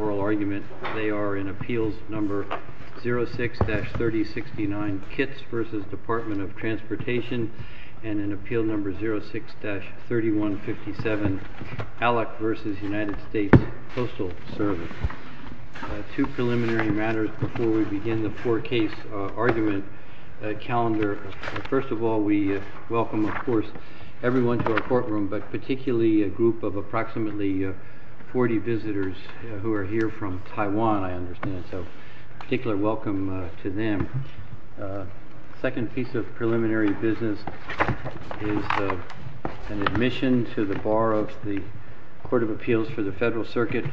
oral argument. They are in Appeals No. 06-3069, Kitts v. Department of Transportation, and in Appeal No. 06-3157, ALEC v. United States Postal Service. Two preliminary matters before we begin the four-case argument calendar. First of all, we welcome, of course, everyone to our courtroom, but particularly a group of approximately 40 visitors who are here from Taiwan, I understand, so a particular welcome to them. The second piece of preliminary business is an admission to the bar of the Court of Appeals for the Federal Circuit,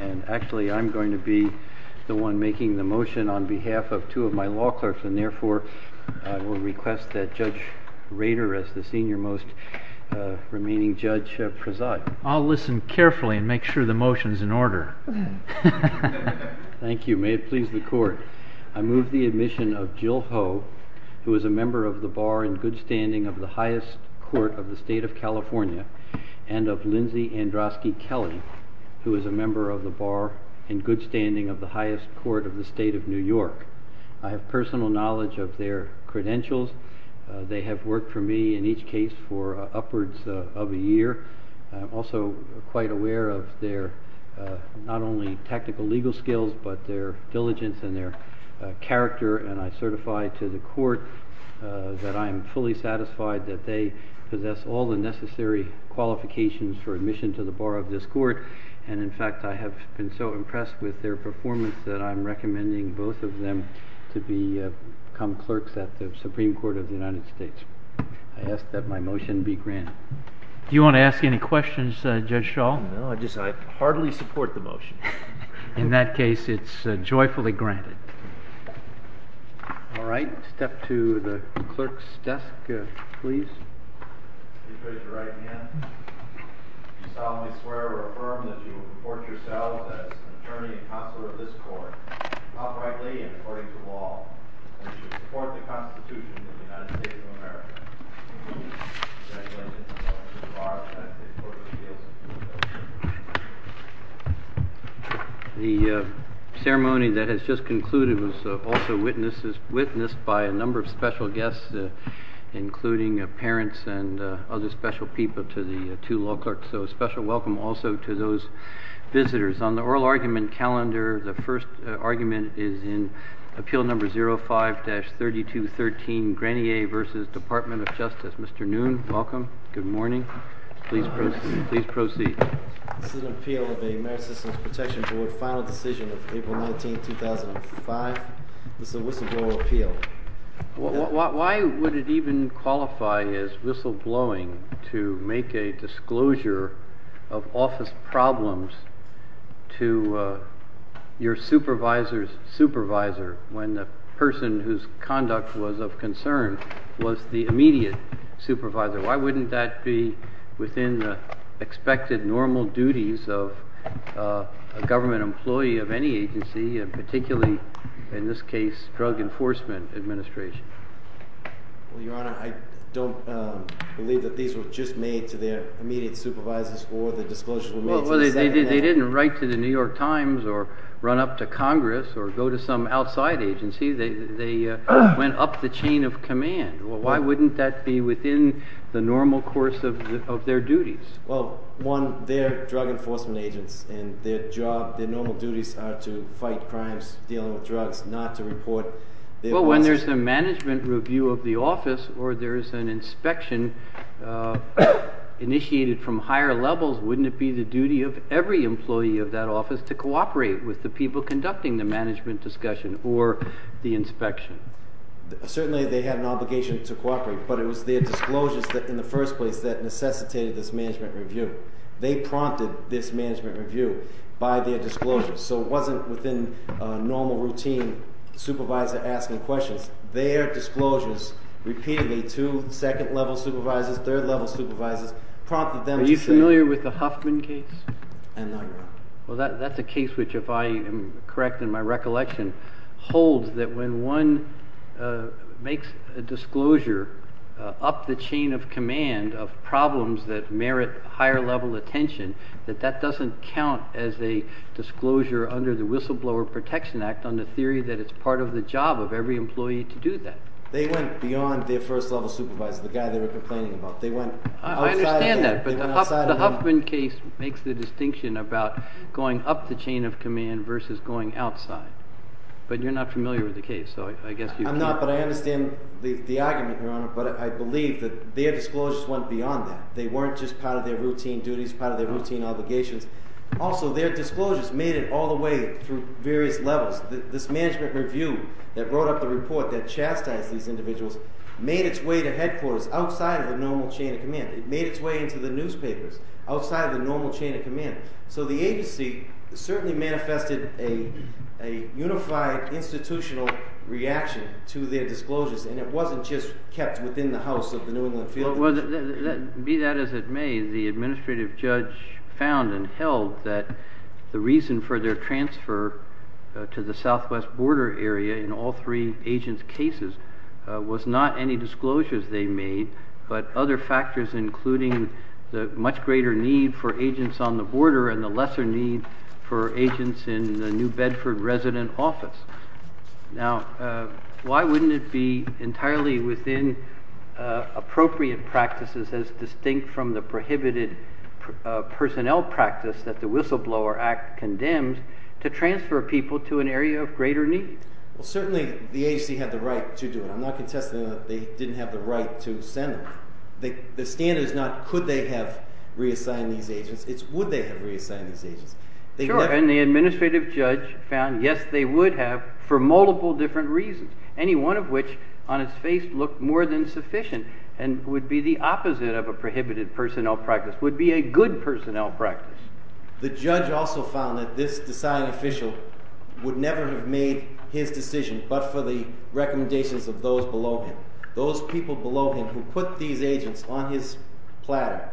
and actually I'm going to be the one making the motion on behalf of two of my law clerks, and therefore I will request that Judge Rader, as the senior most remaining judge, preside. I'll listen carefully and make sure the motion is in order. Thank you. May it please the Court. I move the admission of Jill Ho, who is a member of the bar in good standing of the highest court of the State of California, and of Lindsay Androsky Kelly, who is a member of the bar in good standing of the highest court of the State of New York. I have personal knowledge of their credentials. They have worked for me in each case for upwards of a year. I'm also quite aware of their not only technical legal skills, but their diligence and their character, and I certify to the Court that I am fully satisfied that they possess all the necessary qualifications for admission to the bar of this court, and in fact I have been so impressed with their performance that I'm recommending both of them to become clerks at the Supreme Court of the United States. I ask that my motion be granted. Do you want to ask any questions, Judge Shaw? No, I just hardly support the motion. In that case, it's joyfully granted. All right. Step to the clerk's desk, please. Please raise your right hand. Do you solemnly swear or affirm that you will report yourself as an attorney and consular of this court, outrightly and according to law, and that you will support the Constitution of the United States of America? I do. The ceremony that has just concluded was also witnessed by a number of special guests, including parents and other special people to the two law clerks, so a special welcome also to those visitors. On the oral argument calendar, the first argument is in Appeal Number 05-3213, Granier v. Department of Justice. Mr. Noon, welcome. Good morning. Please proceed. This is an appeal of the American Citizens Protection Board Final Decision of April 19, 2005. This is a whistleblower appeal. Why would it even qualify as whistleblowing to make a disclosure of office problems to your supervisor's supervisor when the person whose conduct was of concern was the immediate supervisor? Why wouldn't that be within the expected normal duties of a government employee of any agency, and particularly, in this case, Drug Enforcement Administration? Well, Your Honor, I don't believe that these were just made to their immediate supervisors or the disclosures were made to the second hand. Well, they didn't write to the New York Times or run up to Congress or go to some outside agency. They went up the chain of command. Why wouldn't that be within the normal course of their duties? Well, one, they're drug enforcement agents, and their normal duties are to fight crimes, deal with drugs, not to report. Well, when there's a management review of the office or there's an inspection initiated from higher levels, wouldn't it be the duty of every employee of that office to cooperate with the people conducting the management discussion or the inspection? Certainly, they have an obligation to cooperate, but it was their disclosures in the first place that necessitated this management review. They prompted this management review by their disclosures, so it wasn't within normal routine supervisor asking questions. Their disclosures repeatedly to second level supervisors, third level supervisors prompted them to say— Are you familiar with the Huffman case? And now Your Honor. Well, that's a case which, if I am correct in my recollection, holds that when one makes a disclosure up the chain of command of problems that merit higher level attention, that that doesn't count as a disclosure under the Whistleblower Protection Act on the theory that it's part of the job of every employee to do that. They went beyond their first level supervisor, the guy they were complaining about. I understand that, but the Huffman case makes the distinction about going up the chain of command versus going outside. But you're not familiar with the case, so I guess you can't— I'm not, but I understand the argument, Your Honor, but I believe that their disclosures went beyond that. They weren't just part of their routine duties, part of their routine obligations. Also, their disclosures made it all the way through various levels. This management review that brought up the report that chastised these individuals made its way to headquarters outside of the normal chain of command. It made its way into the newspapers outside of the normal chain of command. So the agency certainly manifested a unified institutional reaction to their disclosures, and it wasn't just kept within the house of the New England field. Be that as it may, the administrative judge found and held that the reason for their transfer to the southwest border area in all three agents' cases was not any disclosures they made, but other factors, including the much greater need for agents on the border and the lesser need for agents in the New Bedford resident office. Now, why wouldn't it be entirely within appropriate practices as distinct from the prohibited personnel practice that the Whistleblower Act condemned to transfer people to an area of greater need? Well, certainly the agency had the right to do it. I'm not contesting that they didn't have the right to send them. The standard is not could they have reassigned these agents. Sure, and the administrative judge found, yes, they would have for multiple different reasons, any one of which on its face looked more than sufficient and would be the opposite of a prohibited personnel practice, would be a good personnel practice. The judge also found that this assigned official would never have made his decision but for the recommendations of those below him. Those people below him who put these agents on his platter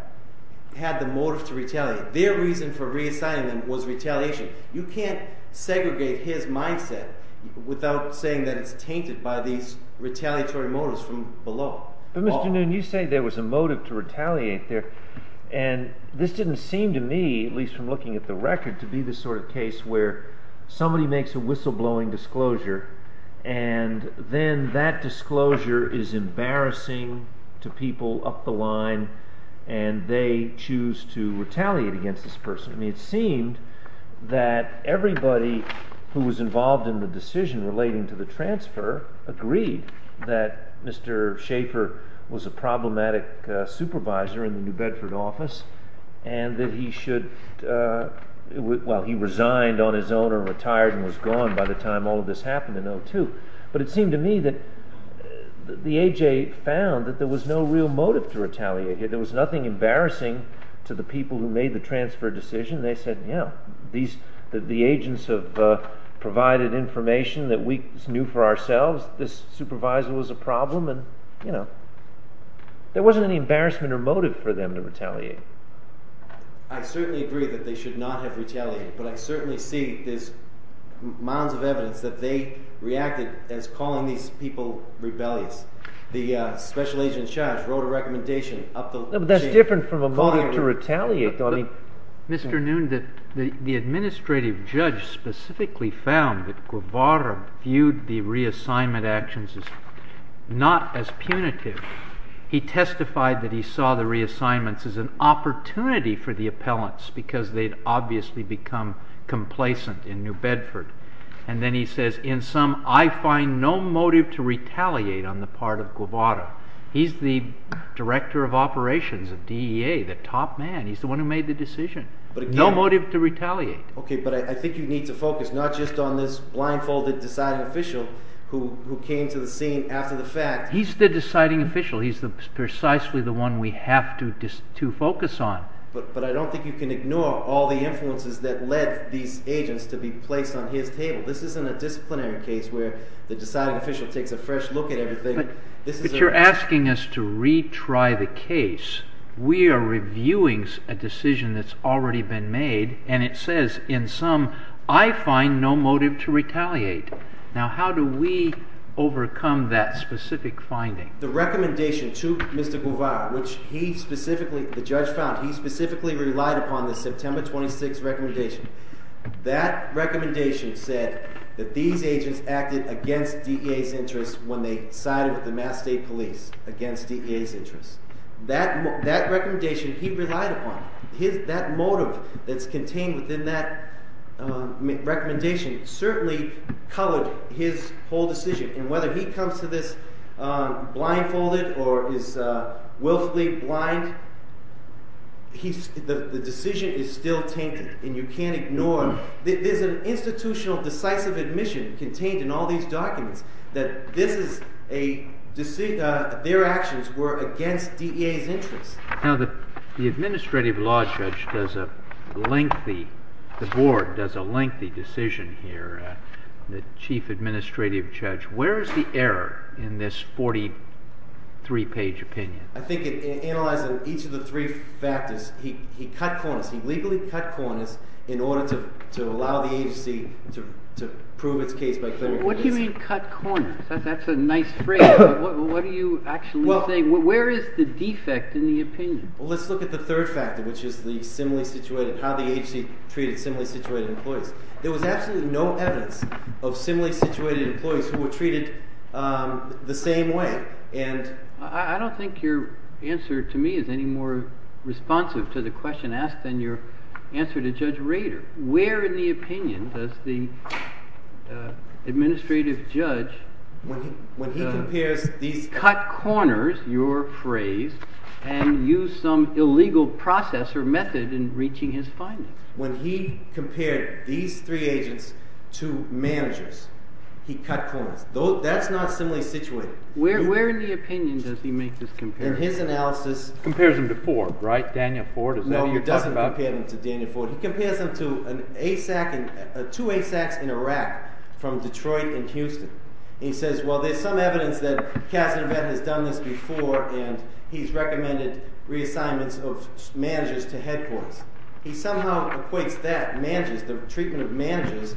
had the motive to retaliate. Their reason for reassigning them was retaliation. You can't segregate his mindset without saying that it's tainted by these retaliatory motives from below. But Mr. Noon, you say there was a motive to retaliate there. And this didn't seem to me, at least from looking at the record, to be the sort of case where somebody makes a whistleblowing disclosure and then that disclosure is embarrassing to people up the line and they choose to retaliate against this person. I mean, it seemed that everybody who was involved in the decision relating to the transfer agreed that Mr. Schaefer was a problematic supervisor in the New Bedford office and that he should, well, he resigned on his own or retired and was gone by the time all of this happened in 02. But it seemed to me that the AJ found that there was no real motive to retaliate. There was nothing embarrassing to the people who made the transfer decision. They said, you know, the agents have provided information that we knew for ourselves. This supervisor was a problem and, you know, there wasn't any embarrassment or motive for them to retaliate. I certainly agree that they should not have retaliated, but I certainly see there's mounds of evidence that they reacted as calling these people rebellious. The special agent Schaaf wrote a recommendation up the chain. But that's different from a motive to retaliate. Mr. Noonan, the administrative judge specifically found that Guevara viewed the reassignment actions as not as punitive. He testified that he saw the reassignments as an opportunity for the appellants because they'd obviously become complacent in New Bedford. And then he says, in sum, I find no motive to retaliate on the part of Guevara. He's the director of operations of DEA, the top man. He's the one who made the decision. No motive to retaliate. Okay, but I think you need to focus not just on this blindfolded deciding official who came to the scene after the fact. He's the deciding official. He's precisely the one we have to focus on. But I don't think you can ignore all the influences that led these agents to be placed on his table. This isn't a disciplinary case where the deciding official takes a fresh look at everything. But you're asking us to retry the case. We are reviewing a decision that's already been made, and it says, in sum, I find no motive to retaliate. Now, how do we overcome that specific finding? The recommendation to Mr. Guevara, which he specifically, the judge found, he specifically relied upon the September 26 recommendation. That recommendation said that these agents acted against DEA's interests when they sided with the Mass State Police against DEA's interests. That recommendation he relied upon, that motive that's contained within that recommendation certainly colored his whole decision. And whether he comes to this blindfolded or is willfully blind, the decision is still tainted, and you can't ignore it. There's an institutional decisive admission contained in all these documents that this is a – their actions were against DEA's interests. Now, the administrative law judge does a lengthy – the board does a lengthy decision here. The chief administrative judge, where is the error in this 43-page opinion? I think it analyzes each of the three factors. He cut corners. He legally cut corners in order to allow the agency to prove its case by clearing the case. What do you mean cut corners? That's a nice phrase. What are you actually saying? Where is the defect in the opinion? Well, let's look at the third factor, which is the similarly situated – how the agency treated similarly situated employees. There was absolutely no evidence of similarly situated employees who were treated the same way, and – I don't think your answer to me is any more responsive to the question asked than your answer to Judge Rader. Where in the opinion does the administrative judge – When he compares these – Cut corners, your phrase, and use some illegal process or method in reaching his findings. When he compared these three agents to managers, he cut corners. That's not similarly situated. Where in the opinion does he make this comparison? In his analysis – Compares them to Ford, right? Daniel Ford, is that who you're talking about? He doesn't compare them to Daniel Ford. He compares them to an ASAC – two ASACs in Iraq from Detroit and Houston. He says, well, there's some evidence that Cass and Yvette has done this before, and he's recommended reassignments of managers to headquarters. He somehow equates that managers, the treatment of managers,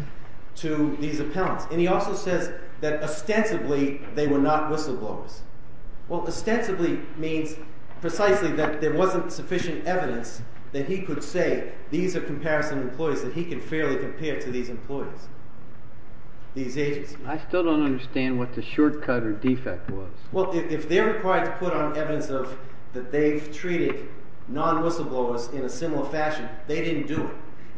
to these appellants. And he also says that ostensibly they were not whistleblowers. Well, ostensibly means precisely that there wasn't sufficient evidence that he could say these are comparison employees that he could fairly compare to these employees, these agents. I still don't understand what the shortcut or defect was. Well, if they're required to put on evidence that they've treated non-whistleblowers in a similar fashion, they didn't do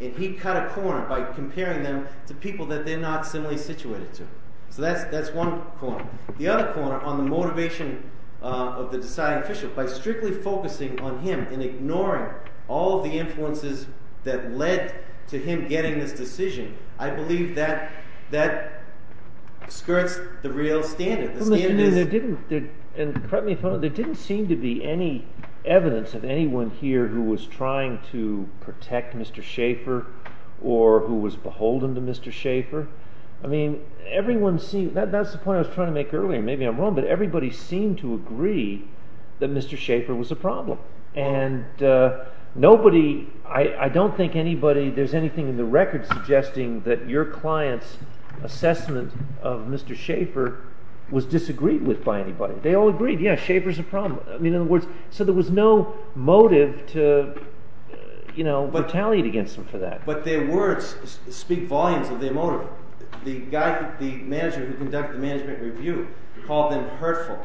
it. And he cut a corner by comparing them to people that they're not similarly situated to. So that's one corner. The other corner, on the motivation of the deciding official, by strictly focusing on him and ignoring all of the influences that led to him getting this decision, I believe that skirts the real standard. There didn't seem to be any evidence of anyone here who was trying to protect Mr. Schaefer or who was beholden to Mr. Schaefer. I mean, everyone seems – that's the point I was trying to make earlier. Maybe I'm wrong, but everybody seemed to agree that Mr. Schaefer was a problem. And nobody – I don't think anybody – there's anything in the record suggesting that your client's assessment of Mr. Schaefer was disagreed with by anybody. They all agreed, yeah, Schaefer's a problem. I mean, in other words, so there was no motive to retaliate against him for that. But their words speak volumes of their motive. The manager who conducted the management review called them hurtful.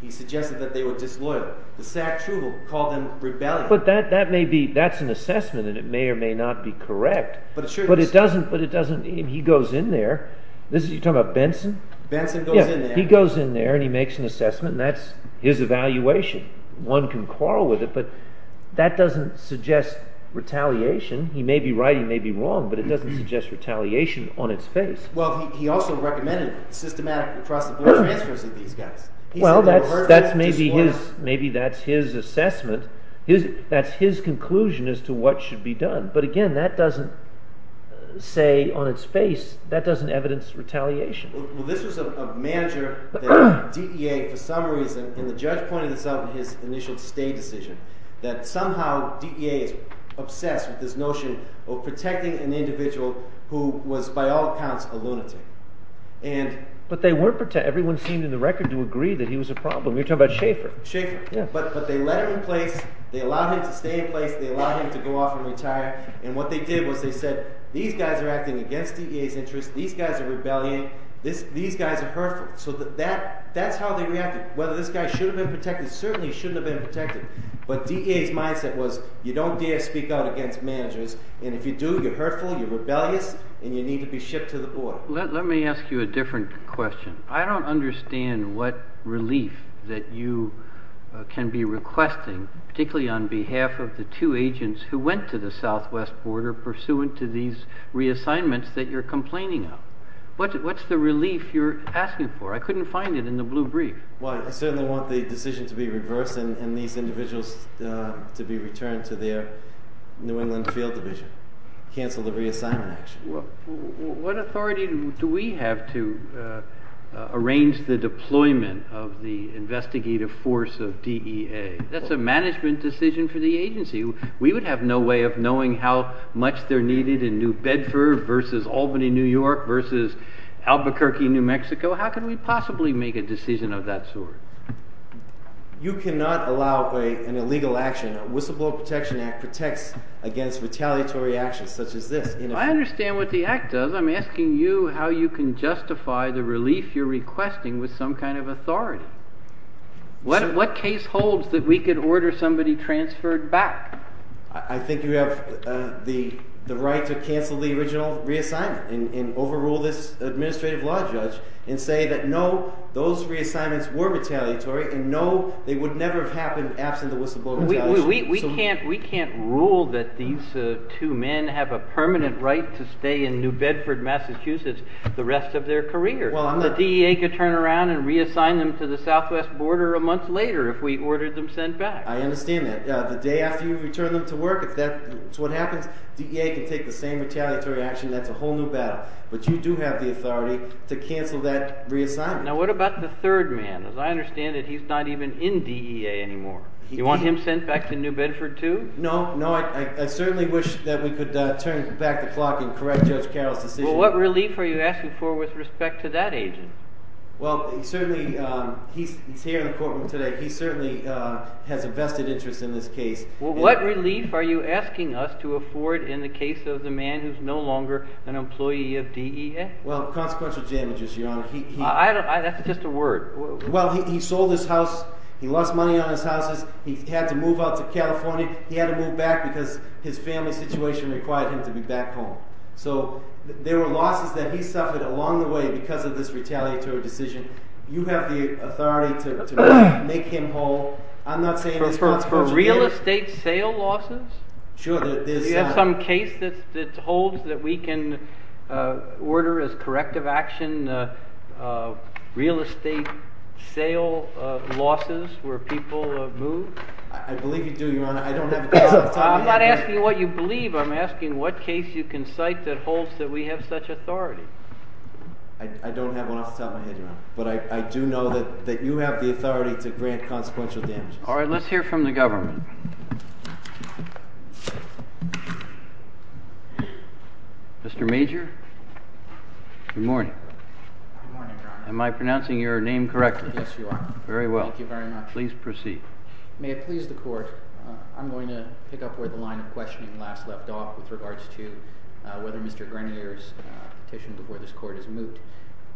He suggested that they were disloyal. The Sack Trouble called them rebellious. But that may be – that's an assessment, and it may or may not be correct. But it's true. But it doesn't – he goes in there. You're talking about Benson? Benson goes in there. Yeah, he goes in there and he makes an assessment, and that's his evaluation. One can quarrel with it, but that doesn't suggest retaliation. He may be right, he may be wrong, but it doesn't suggest retaliation on its face. Well, he also recommended systematic cross-employment transfers of these guys. Well, that's maybe his – maybe that's his assessment. That's his conclusion as to what should be done. But again, that doesn't say on its face – that doesn't evidence retaliation. Well, this was a manager that DEA, for some reason – and the judge pointed this out in his initial stay decision – that somehow DEA is obsessed with this notion of protecting an individual who was by all accounts a lunatic. And – But they weren't – everyone seemed in the record to agree that he was a problem. You're talking about Schaeffer. Schaeffer. Yeah. But they let him in place. They allowed him to stay in place. They allowed him to go off and retire. And what they did was they said, these guys are acting against DEA's interests, these guys are rebelling, these guys are hurtful. So that's how they reacted. Whether this guy should have been protected, certainly shouldn't have been protected. But DEA's mindset was, you don't dare speak out against managers. And if you do, you're hurtful, you're rebellious, and you need to be shipped to the board. Let me ask you a different question. I don't understand what relief that you can be requesting, particularly on behalf of the two agents who went to the southwest border pursuant to these reassignments that you're complaining of. What's the relief you're asking for? I couldn't find it in the blue brief. Well, I certainly want the decision to be reversed and these individuals to be returned to their New England field division. Cancel the reassignment action. What authority do we have to arrange the deployment of the investigative force of DEA? That's a management decision for the agency. We would have no way of knowing how much they're needed in New Bedford versus Albany, New York versus Albuquerque, New Mexico. How can we possibly make a decision of that sort? You cannot allow an illegal action. The Whistleblower Protection Act protects against retaliatory actions such as this. If I understand what the act does, I'm asking you how you can justify the relief you're requesting with some kind of authority. What case holds that we could order somebody transferred back? I think you have the right to cancel the original reassignment and overrule this administrative law judge and say that, no, those reassignments were retaliatory and, no, they would never have happened absent the whistleblower retaliation. We can't rule that these two men have a permanent right to stay in New Bedford, Massachusetts the rest of their careers. The DEA could turn around and reassign them to the southwest border a month later if we ordered them sent back. I understand that. The day after you return them to work, if that's what happens, DEA can take the same retaliatory action. That's a whole new battle. But you do have the authority to cancel that reassignment. Now, what about the third man? As I understand it, he's not even in DEA anymore. You want him sent back to New Bedford, too? No, no. I certainly wish that we could turn back the clock and correct Judge Carroll's decision. Well, what relief are you asking for with respect to that agent? Well, he's here in the courtroom today. He certainly has a vested interest in this case. Well, what relief are you asking us to afford in the case of the man who's no longer an employee of DEA? Well, consequential damages, Your Honor. That's just a word. Well, he sold his house. He lost money on his houses. He had to move out to California. He had to move back because his family situation required him to be back home. So there were losses that he suffered along the way because of this retaliatory decision. You have the authority to make him whole. I'm not saying it's consequential damages. For real estate sale losses? Sure. Do you have some case that holds that we can order as corrective action real estate sale losses where people move? I believe you do, Your Honor. I don't have it off the top of my head. I'm not asking what you believe. I'm asking what case you can cite that holds that we have such authority. I don't have one off the top of my head, Your Honor. But I do know that you have the authority to grant consequential damages. All right. Well, let's hear from the government. Mr. Major? Good morning. Good morning, Your Honor. Am I pronouncing your name correctly? Yes, you are. Very well. Thank you very much. Please proceed. May it please the court, I'm going to pick up where the line of questioning last left off with regards to whether Mr. Grenier's petition before this court is moved.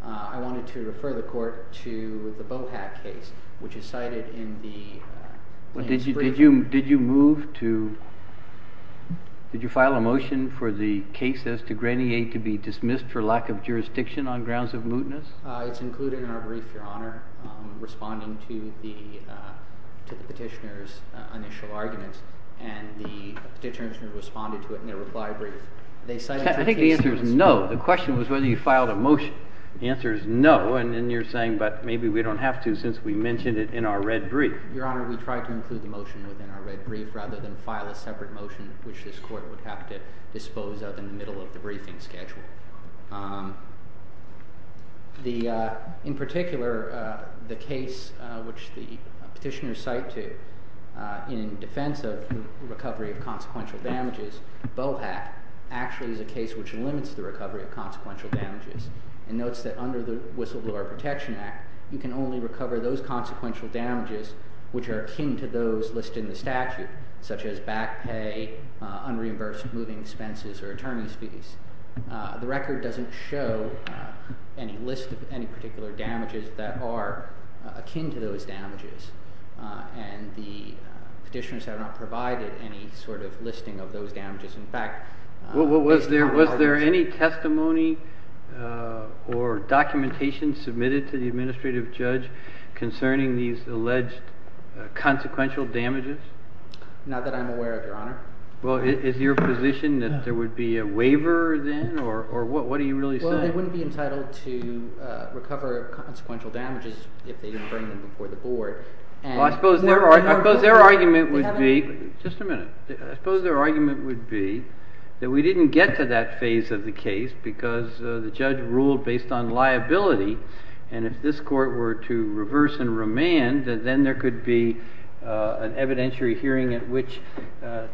I wanted to refer the court to the Bohack case, which is cited in the brief. Did you file a motion for the case as to Grenier to be dismissed for lack of jurisdiction on grounds of mootness? It's included in our brief, Your Honor, responding to the petitioner's initial arguments. And the petitioner responded to it in their reply brief. I think the answer is no. The question was whether you filed a motion. The answer is no. And then you're saying, but maybe we don't have to since we mentioned it in our red brief. Your Honor, we tried to include the motion within our red brief rather than file a separate motion, which this court would have to dispose of in the middle of the briefing schedule. In particular, the case which the petitioner cited in defense of recovery of consequential damages, Bohack, actually is a case which limits the recovery of consequential damages. And notes that under the Whistleblower Protection Act, you can only recover those consequential damages which are akin to those listed in the statute, such as back pay, unreimbursed moving expenses, or attorney's fees. The record doesn't show any list of any particular damages that are akin to those damages. And the petitioners have not provided any sort of listing of those damages. In fact— Was there any testimony or documentation submitted to the administrative judge concerning these alleged consequential damages? Well, is your position that there would be a waiver then? Or what are you really saying? Well, they wouldn't be entitled to recover consequential damages if they didn't bring them before the board. Well, I suppose their argument would be— Just a minute. There wouldn't be an evidentiary hearing at which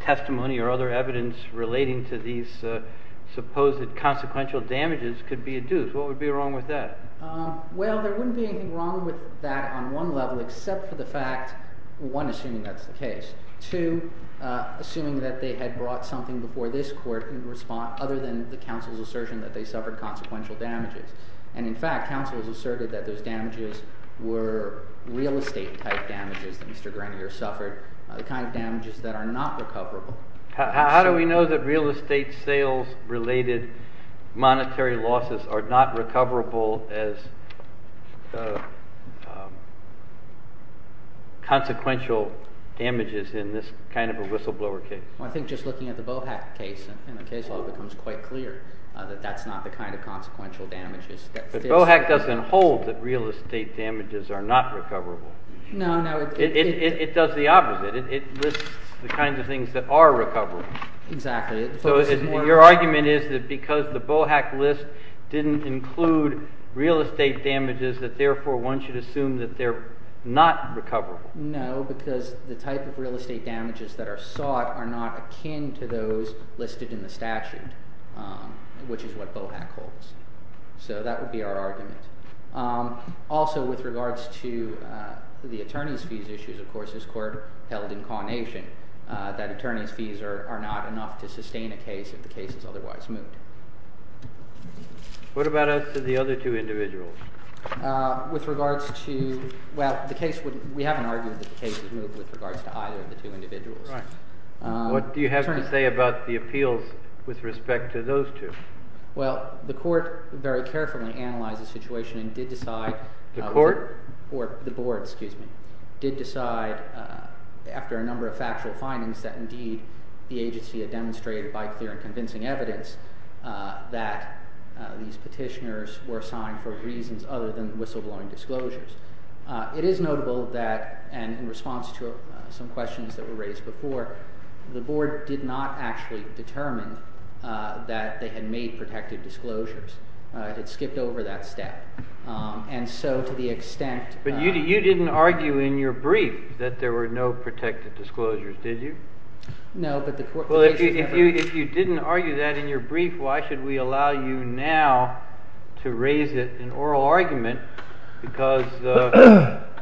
testimony or other evidence relating to these supposed consequential damages could be adduced. What would be wrong with that? Well, there wouldn't be anything wrong with that on one level except for the fact—one, assuming that's the case. Two, assuming that they had brought something before this court in response—other than the counsel's assertion that they suffered consequential damages. And, in fact, counsel has asserted that those damages were real estate-type damages that Mr. Grenier suffered, the kind of damages that are not recoverable. How do we know that real estate sales-related monetary losses are not recoverable as consequential damages in this kind of a whistleblower case? Well, I think just looking at the Bohack case in the case law becomes quite clear that that's not the kind of consequential damages that— But Bohack doesn't hold that real estate damages are not recoverable. No, no. It does the opposite. It lists the kinds of things that are recoverable. Exactly. So your argument is that because the Bohack list didn't include real estate damages, that therefore one should assume that they're not recoverable. No, because the type of real estate damages that are sought are not akin to those listed in the statute, which is what Bohack holds. So that would be our argument. Also, with regards to the attorney's fees issues, of course, this court held in cognation that attorney's fees are not enough to sustain a case if the case is otherwise moved. What about as to the other two individuals? With regards to—well, we haven't argued that the case is moved with regards to either of the two individuals. Right. What do you have to say about the appeals with respect to those two? Well, the court very carefully analyzed the situation and did decide— The court? Or the board, excuse me, did decide after a number of factual findings that indeed the agency had demonstrated by clear and convincing evidence that these petitioners were assigned for reasons other than whistleblowing disclosures. It is notable that—and in response to some questions that were raised before, the board did not actually determine that they had made protective disclosures. It had skipped over that step. And so to the extent— But you didn't argue in your brief that there were no protective disclosures, did you? No, but the court— Well, if you didn't argue that in your brief, why should we allow you now to raise it in oral argument? Because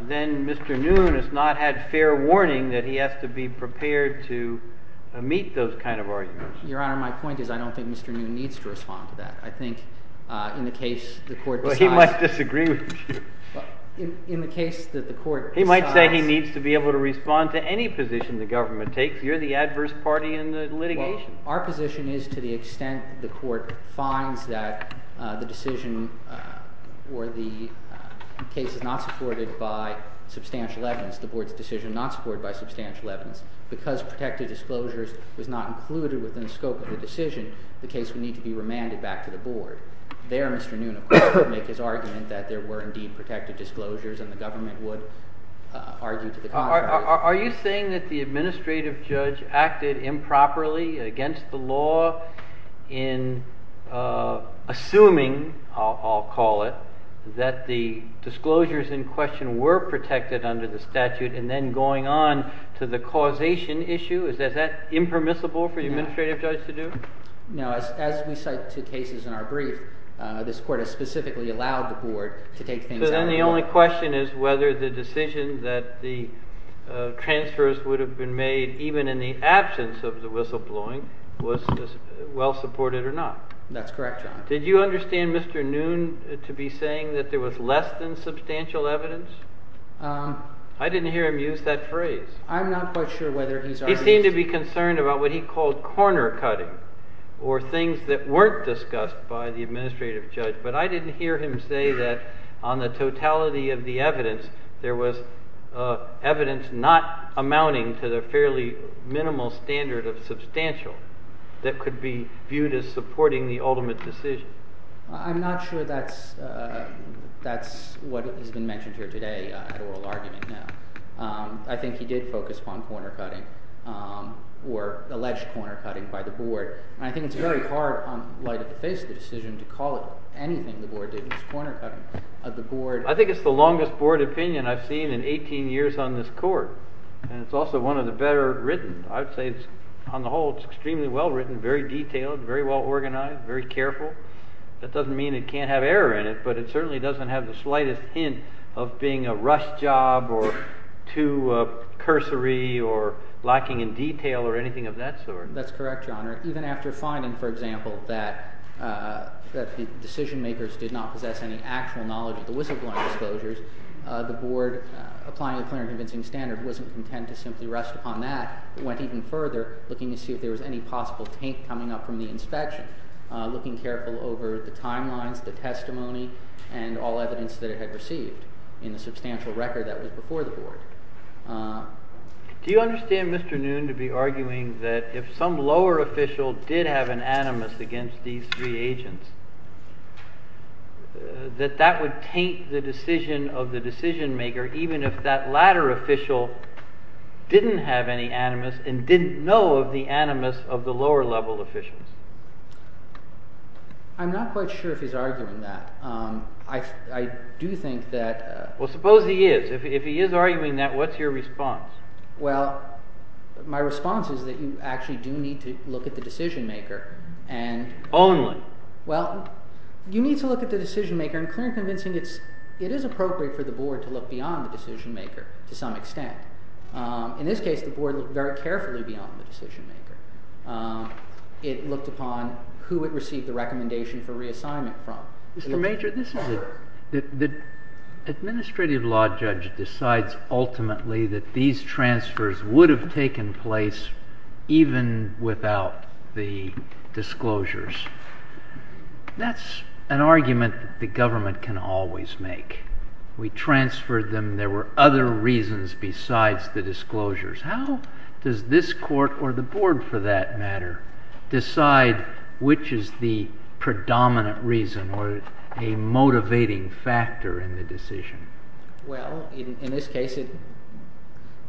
then Mr. Noon has not had fair warning that he has to be prepared to meet those kind of arguments. Your Honor, my point is I don't think Mr. Noon needs to respond to that. I think in the case the court decides— Well, he might disagree with you. In the case that the court decides— He might say he needs to be able to respond to any position the government takes. You're the adverse party in the litigation. Well, our position is to the extent the court finds that the decision or the case is not supported by substantial evidence, the board's decision not supported by substantial evidence, because protective disclosures was not included within the scope of the decision, the case would need to be remanded back to the board. There Mr. Noon, of course, would make his argument that there were indeed protective disclosures and the government would argue to the contrary. Are you saying that the administrative judge acted improperly against the law in assuming, I'll call it, that the disclosures in question were protected under the statute and then going on to the causation issue? Is that impermissible for the administrative judge to do? Now, as we cite two cases in our brief, this court has specifically allowed the board to take things— So then the only question is whether the decision that the transfers would have been made even in the absence of the whistleblowing was well supported or not. That's correct, John. Did you understand Mr. Noon to be saying that there was less than substantial evidence? I didn't hear him use that phrase. I'm not quite sure whether he's— He seemed to be concerned about what he called corner cutting or things that weren't discussed by the administrative judge, but I didn't hear him say that on the totality of the evidence there was evidence not amounting to the fairly minimal standard of substantial that could be viewed as supporting the ultimate decision. I'm not sure that's what has been mentioned here today at oral argument now. I think he did focus on corner cutting or alleged corner cutting by the board, and I think it's very hard in light of the face of the decision to call it anything the board did. It's corner cutting of the board. I think it's the longest board opinion I've seen in 18 years on this court, and it's also one of the better written. I would say it's—on the whole, it's extremely well written, very detailed, very well organized, very careful. That doesn't mean it can't have error in it, but it certainly doesn't have the slightest hint of being a rush job or too cursory or lacking in detail or anything of that sort. That's correct, Your Honor. Even after finding, for example, that the decision makers did not possess any actual knowledge of the whistleblowing disclosures, the board, applying a clear and convincing standard, wasn't content to simply rest upon that. It went even further, looking to see if there was any possible taint coming up from the inspection, looking careful over the timelines, the testimony, and all evidence that it had received in the substantial record that was before the board. Do you understand, Mr. Noon, to be arguing that if some lower official did have an animus against these three agents, that that would taint the decision of the decision maker, even if that latter official didn't have any animus and didn't know of the animus of the lower level officials? I'm not quite sure if he's arguing that. I do think that— Well, suppose he is. If he is arguing that, what's your response? Well, my response is that you actually do need to look at the decision maker and— Only? Well, you need to look at the decision maker and clear and convincing it is appropriate for the board to look beyond the decision maker to some extent. In this case, the board looked very carefully beyond the decision maker. It looked upon who it received the recommendation for reassignment from. Mr. Major, the administrative law judge decides ultimately that these transfers would have taken place even without the disclosures. That's an argument that the government can always make. We transferred them. There were other reasons besides the disclosures. How does this court, or the board for that matter, decide which is the predominant reason or a motivating factor in the decision? Well, in this case,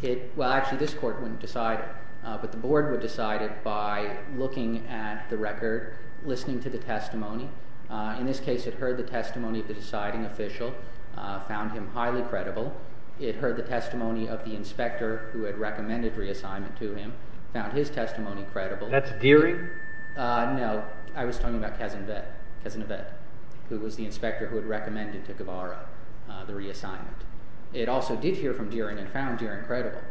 it—well, actually, this court wouldn't decide it, but the board would decide it by looking at the record, listening to the testimony. In this case, it heard the testimony of the deciding official, found him highly credible. It heard the testimony of the inspector who had recommended reassignment to him, found his testimony credible. That's Deering? No, I was talking about Cazenabet, who was the inspector who had recommended to Guevara the reassignment. It also did hear from Deering and found Deering credible.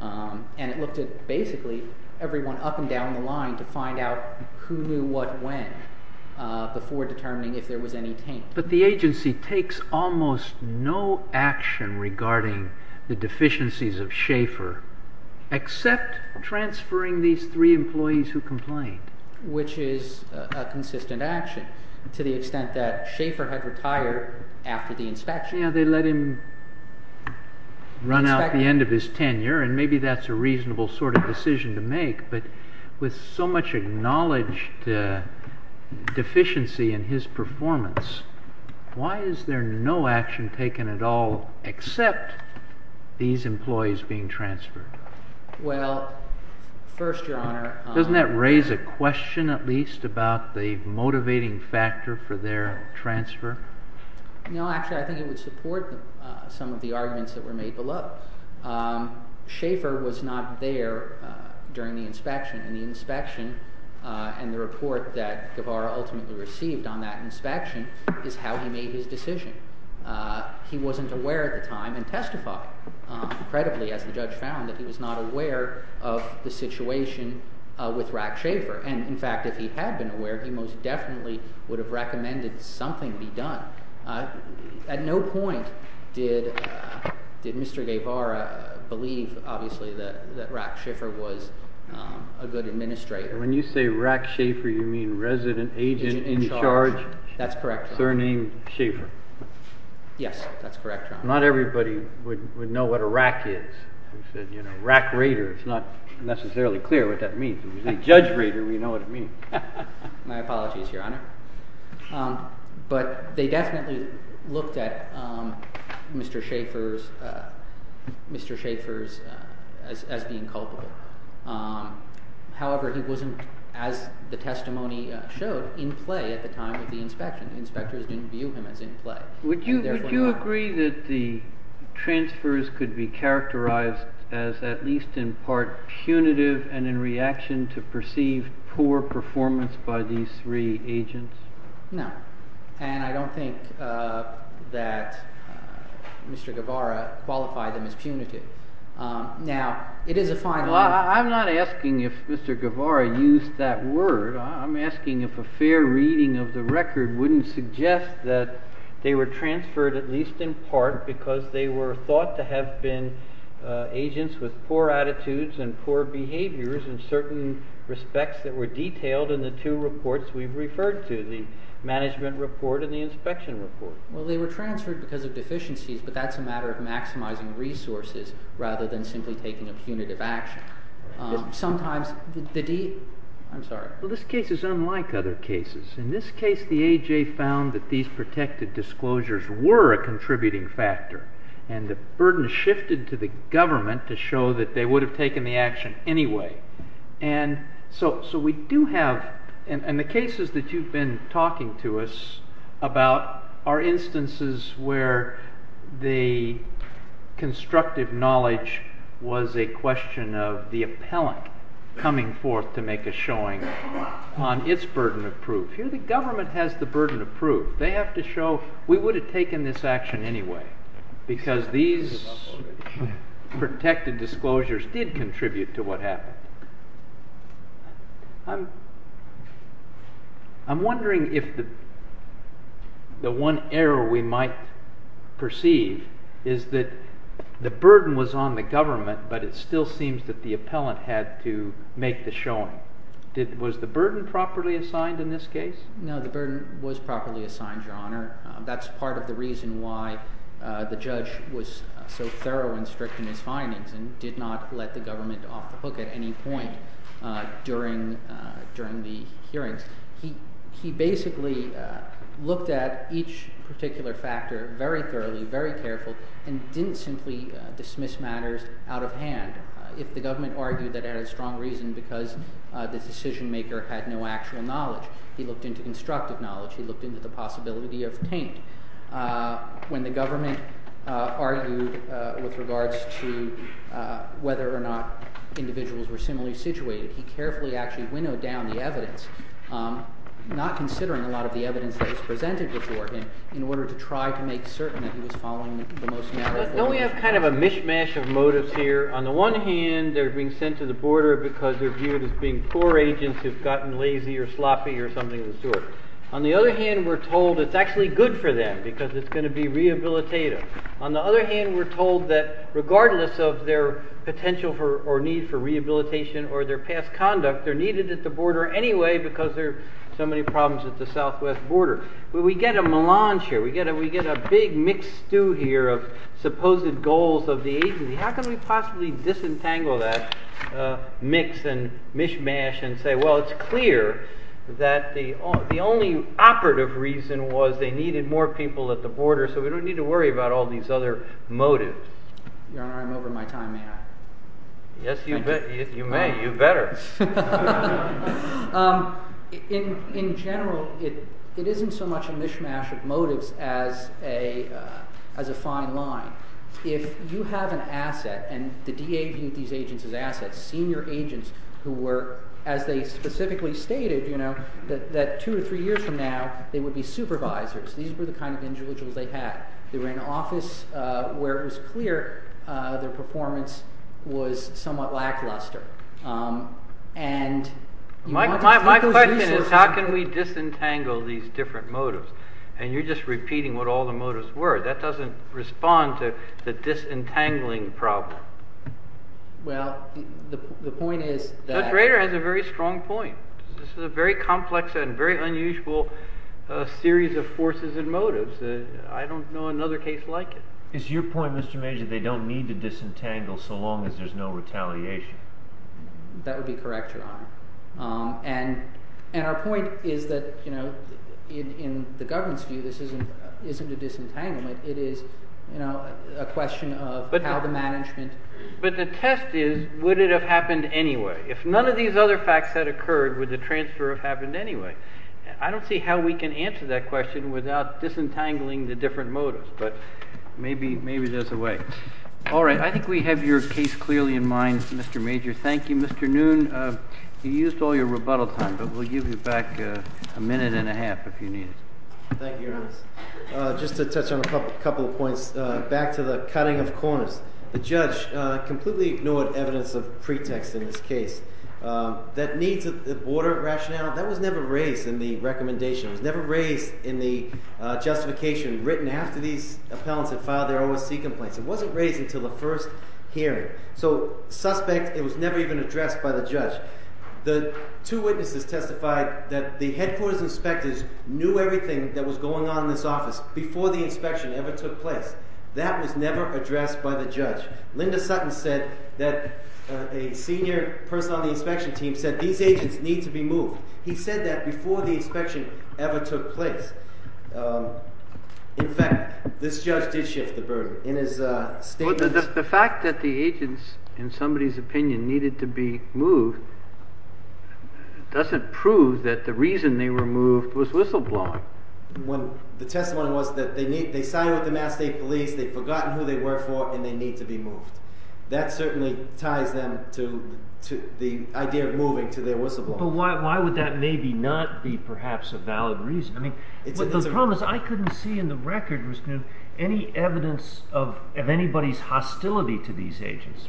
And it looked at basically everyone up and down the line to find out who knew what when before determining if there was any taint. But the agency takes almost no action regarding the deficiencies of Schaeffer except transferring these three employees who complained. Which is a consistent action to the extent that Schaeffer had retired after the inspection. Yeah, they let him run out at the end of his tenure, and maybe that's a reasonable sort of decision to make. But with so much acknowledged deficiency in his performance, why is there no action taken at all except these employees being transferred? Well, first, Your Honor— Doesn't that raise a question at least about the motivating factor for their transfer? No, actually, I think it would support some of the arguments that were made below. Schaeffer was not there during the inspection, and the inspection and the report that Guevara ultimately received on that inspection is how he made his decision. He wasn't aware at the time and testified credibly, as the judge found, that he was not aware of the situation with Rack Schaeffer. And, in fact, if he had been aware, he most definitely would have recommended something be done. At no point did Mr. Guevara believe, obviously, that Rack Schaeffer was a good administrator. When you say Rack Schaeffer, you mean resident agent in charge? That's correct, Your Honor. Surnamed Schaeffer? Yes, that's correct, Your Honor. Not everybody would know what a Rack is. We said, you know, Rack Raider. It's not necessarily clear what that means. If it was a Judge Raider, we'd know what it means. My apologies, Your Honor. But they definitely looked at Mr. Schaeffer as being culpable. However, he wasn't, as the testimony showed, in play at the time of the inspection. The inspectors didn't view him as in play. Would you agree that the transfers could be characterized as at least in part punitive and in reaction to perceived poor performance by these three agents? No. And I don't think that Mr. Guevara qualified them as punitive. Now, it is a fine line. Well, I'm not asking if Mr. Guevara used that word. I'm asking if a fair reading of the record wouldn't suggest that they were transferred at least in part because they were thought to have been agents with poor attitudes and poor behaviors in certain respects that were detailed in the two reports we've referred to, the management report and the inspection report. Well, they were transferred because of deficiencies, but that's a matter of maximizing resources rather than simply taking a punitive action. Sometimes the deed—I'm sorry. Well, this case is unlike other cases. In this case, the AJ found that these protected disclosures were a contributing factor, and the burden shifted to the government to show that they would have taken the action anyway. And so we do have—and the cases that you've been talking to us about are instances where the constructive knowledge was a question of the appellant coming forth to make a showing on its burden of proof. Here the government has the burden of proof. They have to show we would have taken this action anyway because these protected disclosures did contribute to what happened. I'm wondering if the one error we might perceive is that the burden was on the government, but it still seems that the appellant had to make the showing. Was the burden properly assigned in this case? No, the burden was properly assigned, Your Honor. That's part of the reason why the judge was so thorough and strict in his findings and did not let the government off the hook at any point during the hearings. He basically looked at each particular factor very thoroughly, very careful, and didn't simply dismiss matters out of hand. If the government argued that it had a strong reason because the decision maker had no actual knowledge, he looked into constructive knowledge. He looked into the possibility of taint. When the government argued with regards to whether or not individuals were similarly situated, he carefully actually winnowed down the evidence, not considering a lot of the evidence that was presented before him in order to try to make certain that he was following the most narrow point of view. Don't we have kind of a mishmash of motives here? On the one hand, they're being sent to the border because they're viewed as being poor agents who've gotten lazy or sloppy or something of the sort. On the other hand, we're told it's actually good for them because it's going to be rehabilitative. On the other hand, we're told that regardless of their potential or need for rehabilitation or their past conduct, they're needed at the border anyway because there are so many problems at the southwest border. We get a melange here. We get a big mixed stew here of supposed goals of the agency. How can we possibly disentangle that mix and mishmash and say, well, it's clear that the only operative reason was they needed more people at the border so we don't need to worry about all these other motives? Your Honor, I'm over my time. May I? Yes, you may. You better. In general, it isn't so much a mishmash of motives as a fine line. If you have an asset and the DA viewed these agents as assets, senior agents who were, as they specifically stated, that two or three years from now they would be supervisors. These were the kind of individuals they had. They were in an office where it was clear their performance was somewhat lackluster. My question is how can we disentangle these different motives? And you're just repeating what all the motives were. That doesn't respond to the disentangling problem. Well, the point is that— Judge Rader has a very strong point. This is a very complex and very unusual series of forces and motives. I don't know another case like it. It's your point, Mr. Major, they don't need to disentangle so long as there's no retaliation. That would be correct, Your Honor. And our point is that in the government's view this isn't a disentanglement. It is a question of how the management— But the test is would it have happened anyway? If none of these other facts had occurred, would the transfer have happened anyway? I don't see how we can answer that question without disentangling the different motives, but maybe there's a way. All right, I think we have your case clearly in mind, Mr. Major. Thank you, Mr. Noon. You used all your rebuttal time, but we'll give you back a minute and a half if you need it. Thank you, Your Honor. Just to touch on a couple of points, back to the cutting of corners. The judge completely ignored evidence of pretext in this case. That needs a border rationale, that was never raised in the recommendation. It was never raised in the justification written after these appellants had filed their OSC complaints. It wasn't raised until the first hearing. The two witnesses testified that the headquarters inspectors knew everything that was going on in this office before the inspection ever took place. That was never addressed by the judge. Linda Sutton said that a senior person on the inspection team said these agents need to be moved. He said that before the inspection ever took place. In fact, this judge did shift the burden in his statement. The fact that the agents, in somebody's opinion, needed to be moved doesn't prove that the reason they were moved was whistleblowing. The testimony was that they signed with the Mass State Police, they'd forgotten who they were for, and they need to be moved. That certainly ties them to the idea of moving to their whistleblowing. But why would that maybe not be perhaps a valid reason? I mean, the problem is I couldn't see in the record any evidence of anybody's hostility to these agents.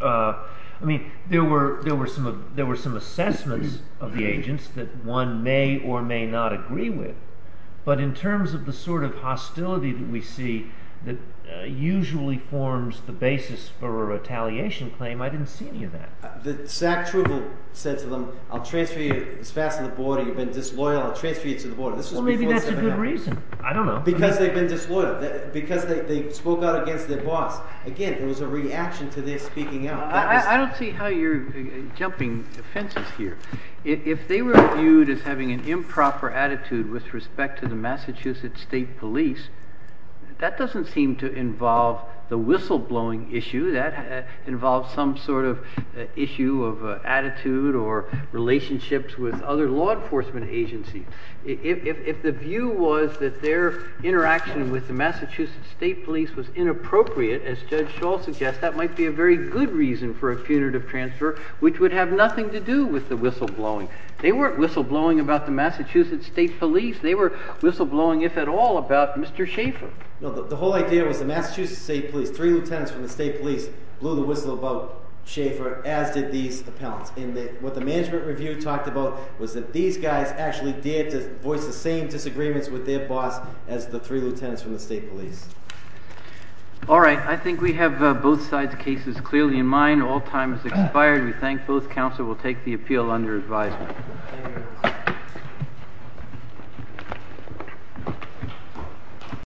I mean, there were some assessments of the agents that one may or may not agree with. But in terms of the sort of hostility that we see that usually forms the basis for a retaliation claim, I didn't see any of that. The SAC trooper said to them, I'll transfer you as fast as the border. You've been disloyal. I'll transfer you to the border. Well, maybe that's a good reason. I don't know. Because they've been disloyal, because they spoke out against their boss. Again, it was a reaction to their speaking out. I don't see how you're jumping the fences here. If they were viewed as having an improper attitude with respect to the Massachusetts State Police, that doesn't seem to involve the whistleblowing issue. That involves some sort of issue of attitude or relationships with other law enforcement agencies. If the view was that their interaction with the Massachusetts State Police was inappropriate, as Judge Schall suggests, that might be a very good reason for a punitive transfer, which would have nothing to do with the whistleblowing. They weren't whistleblowing about the Massachusetts State Police. They were whistleblowing, if at all, about Mr. Schaffer. The whole idea was the Massachusetts State Police, three lieutenants from the State Police, blew the whistle about Schaffer, as did these appellants. What the management review talked about was that these guys actually dared to voice the same disagreements with their boss as the three lieutenants from the State Police. All right. I think we have both sides' cases clearly in mind. All time has expired. We thank both counsel. We'll take the appeal under advisement.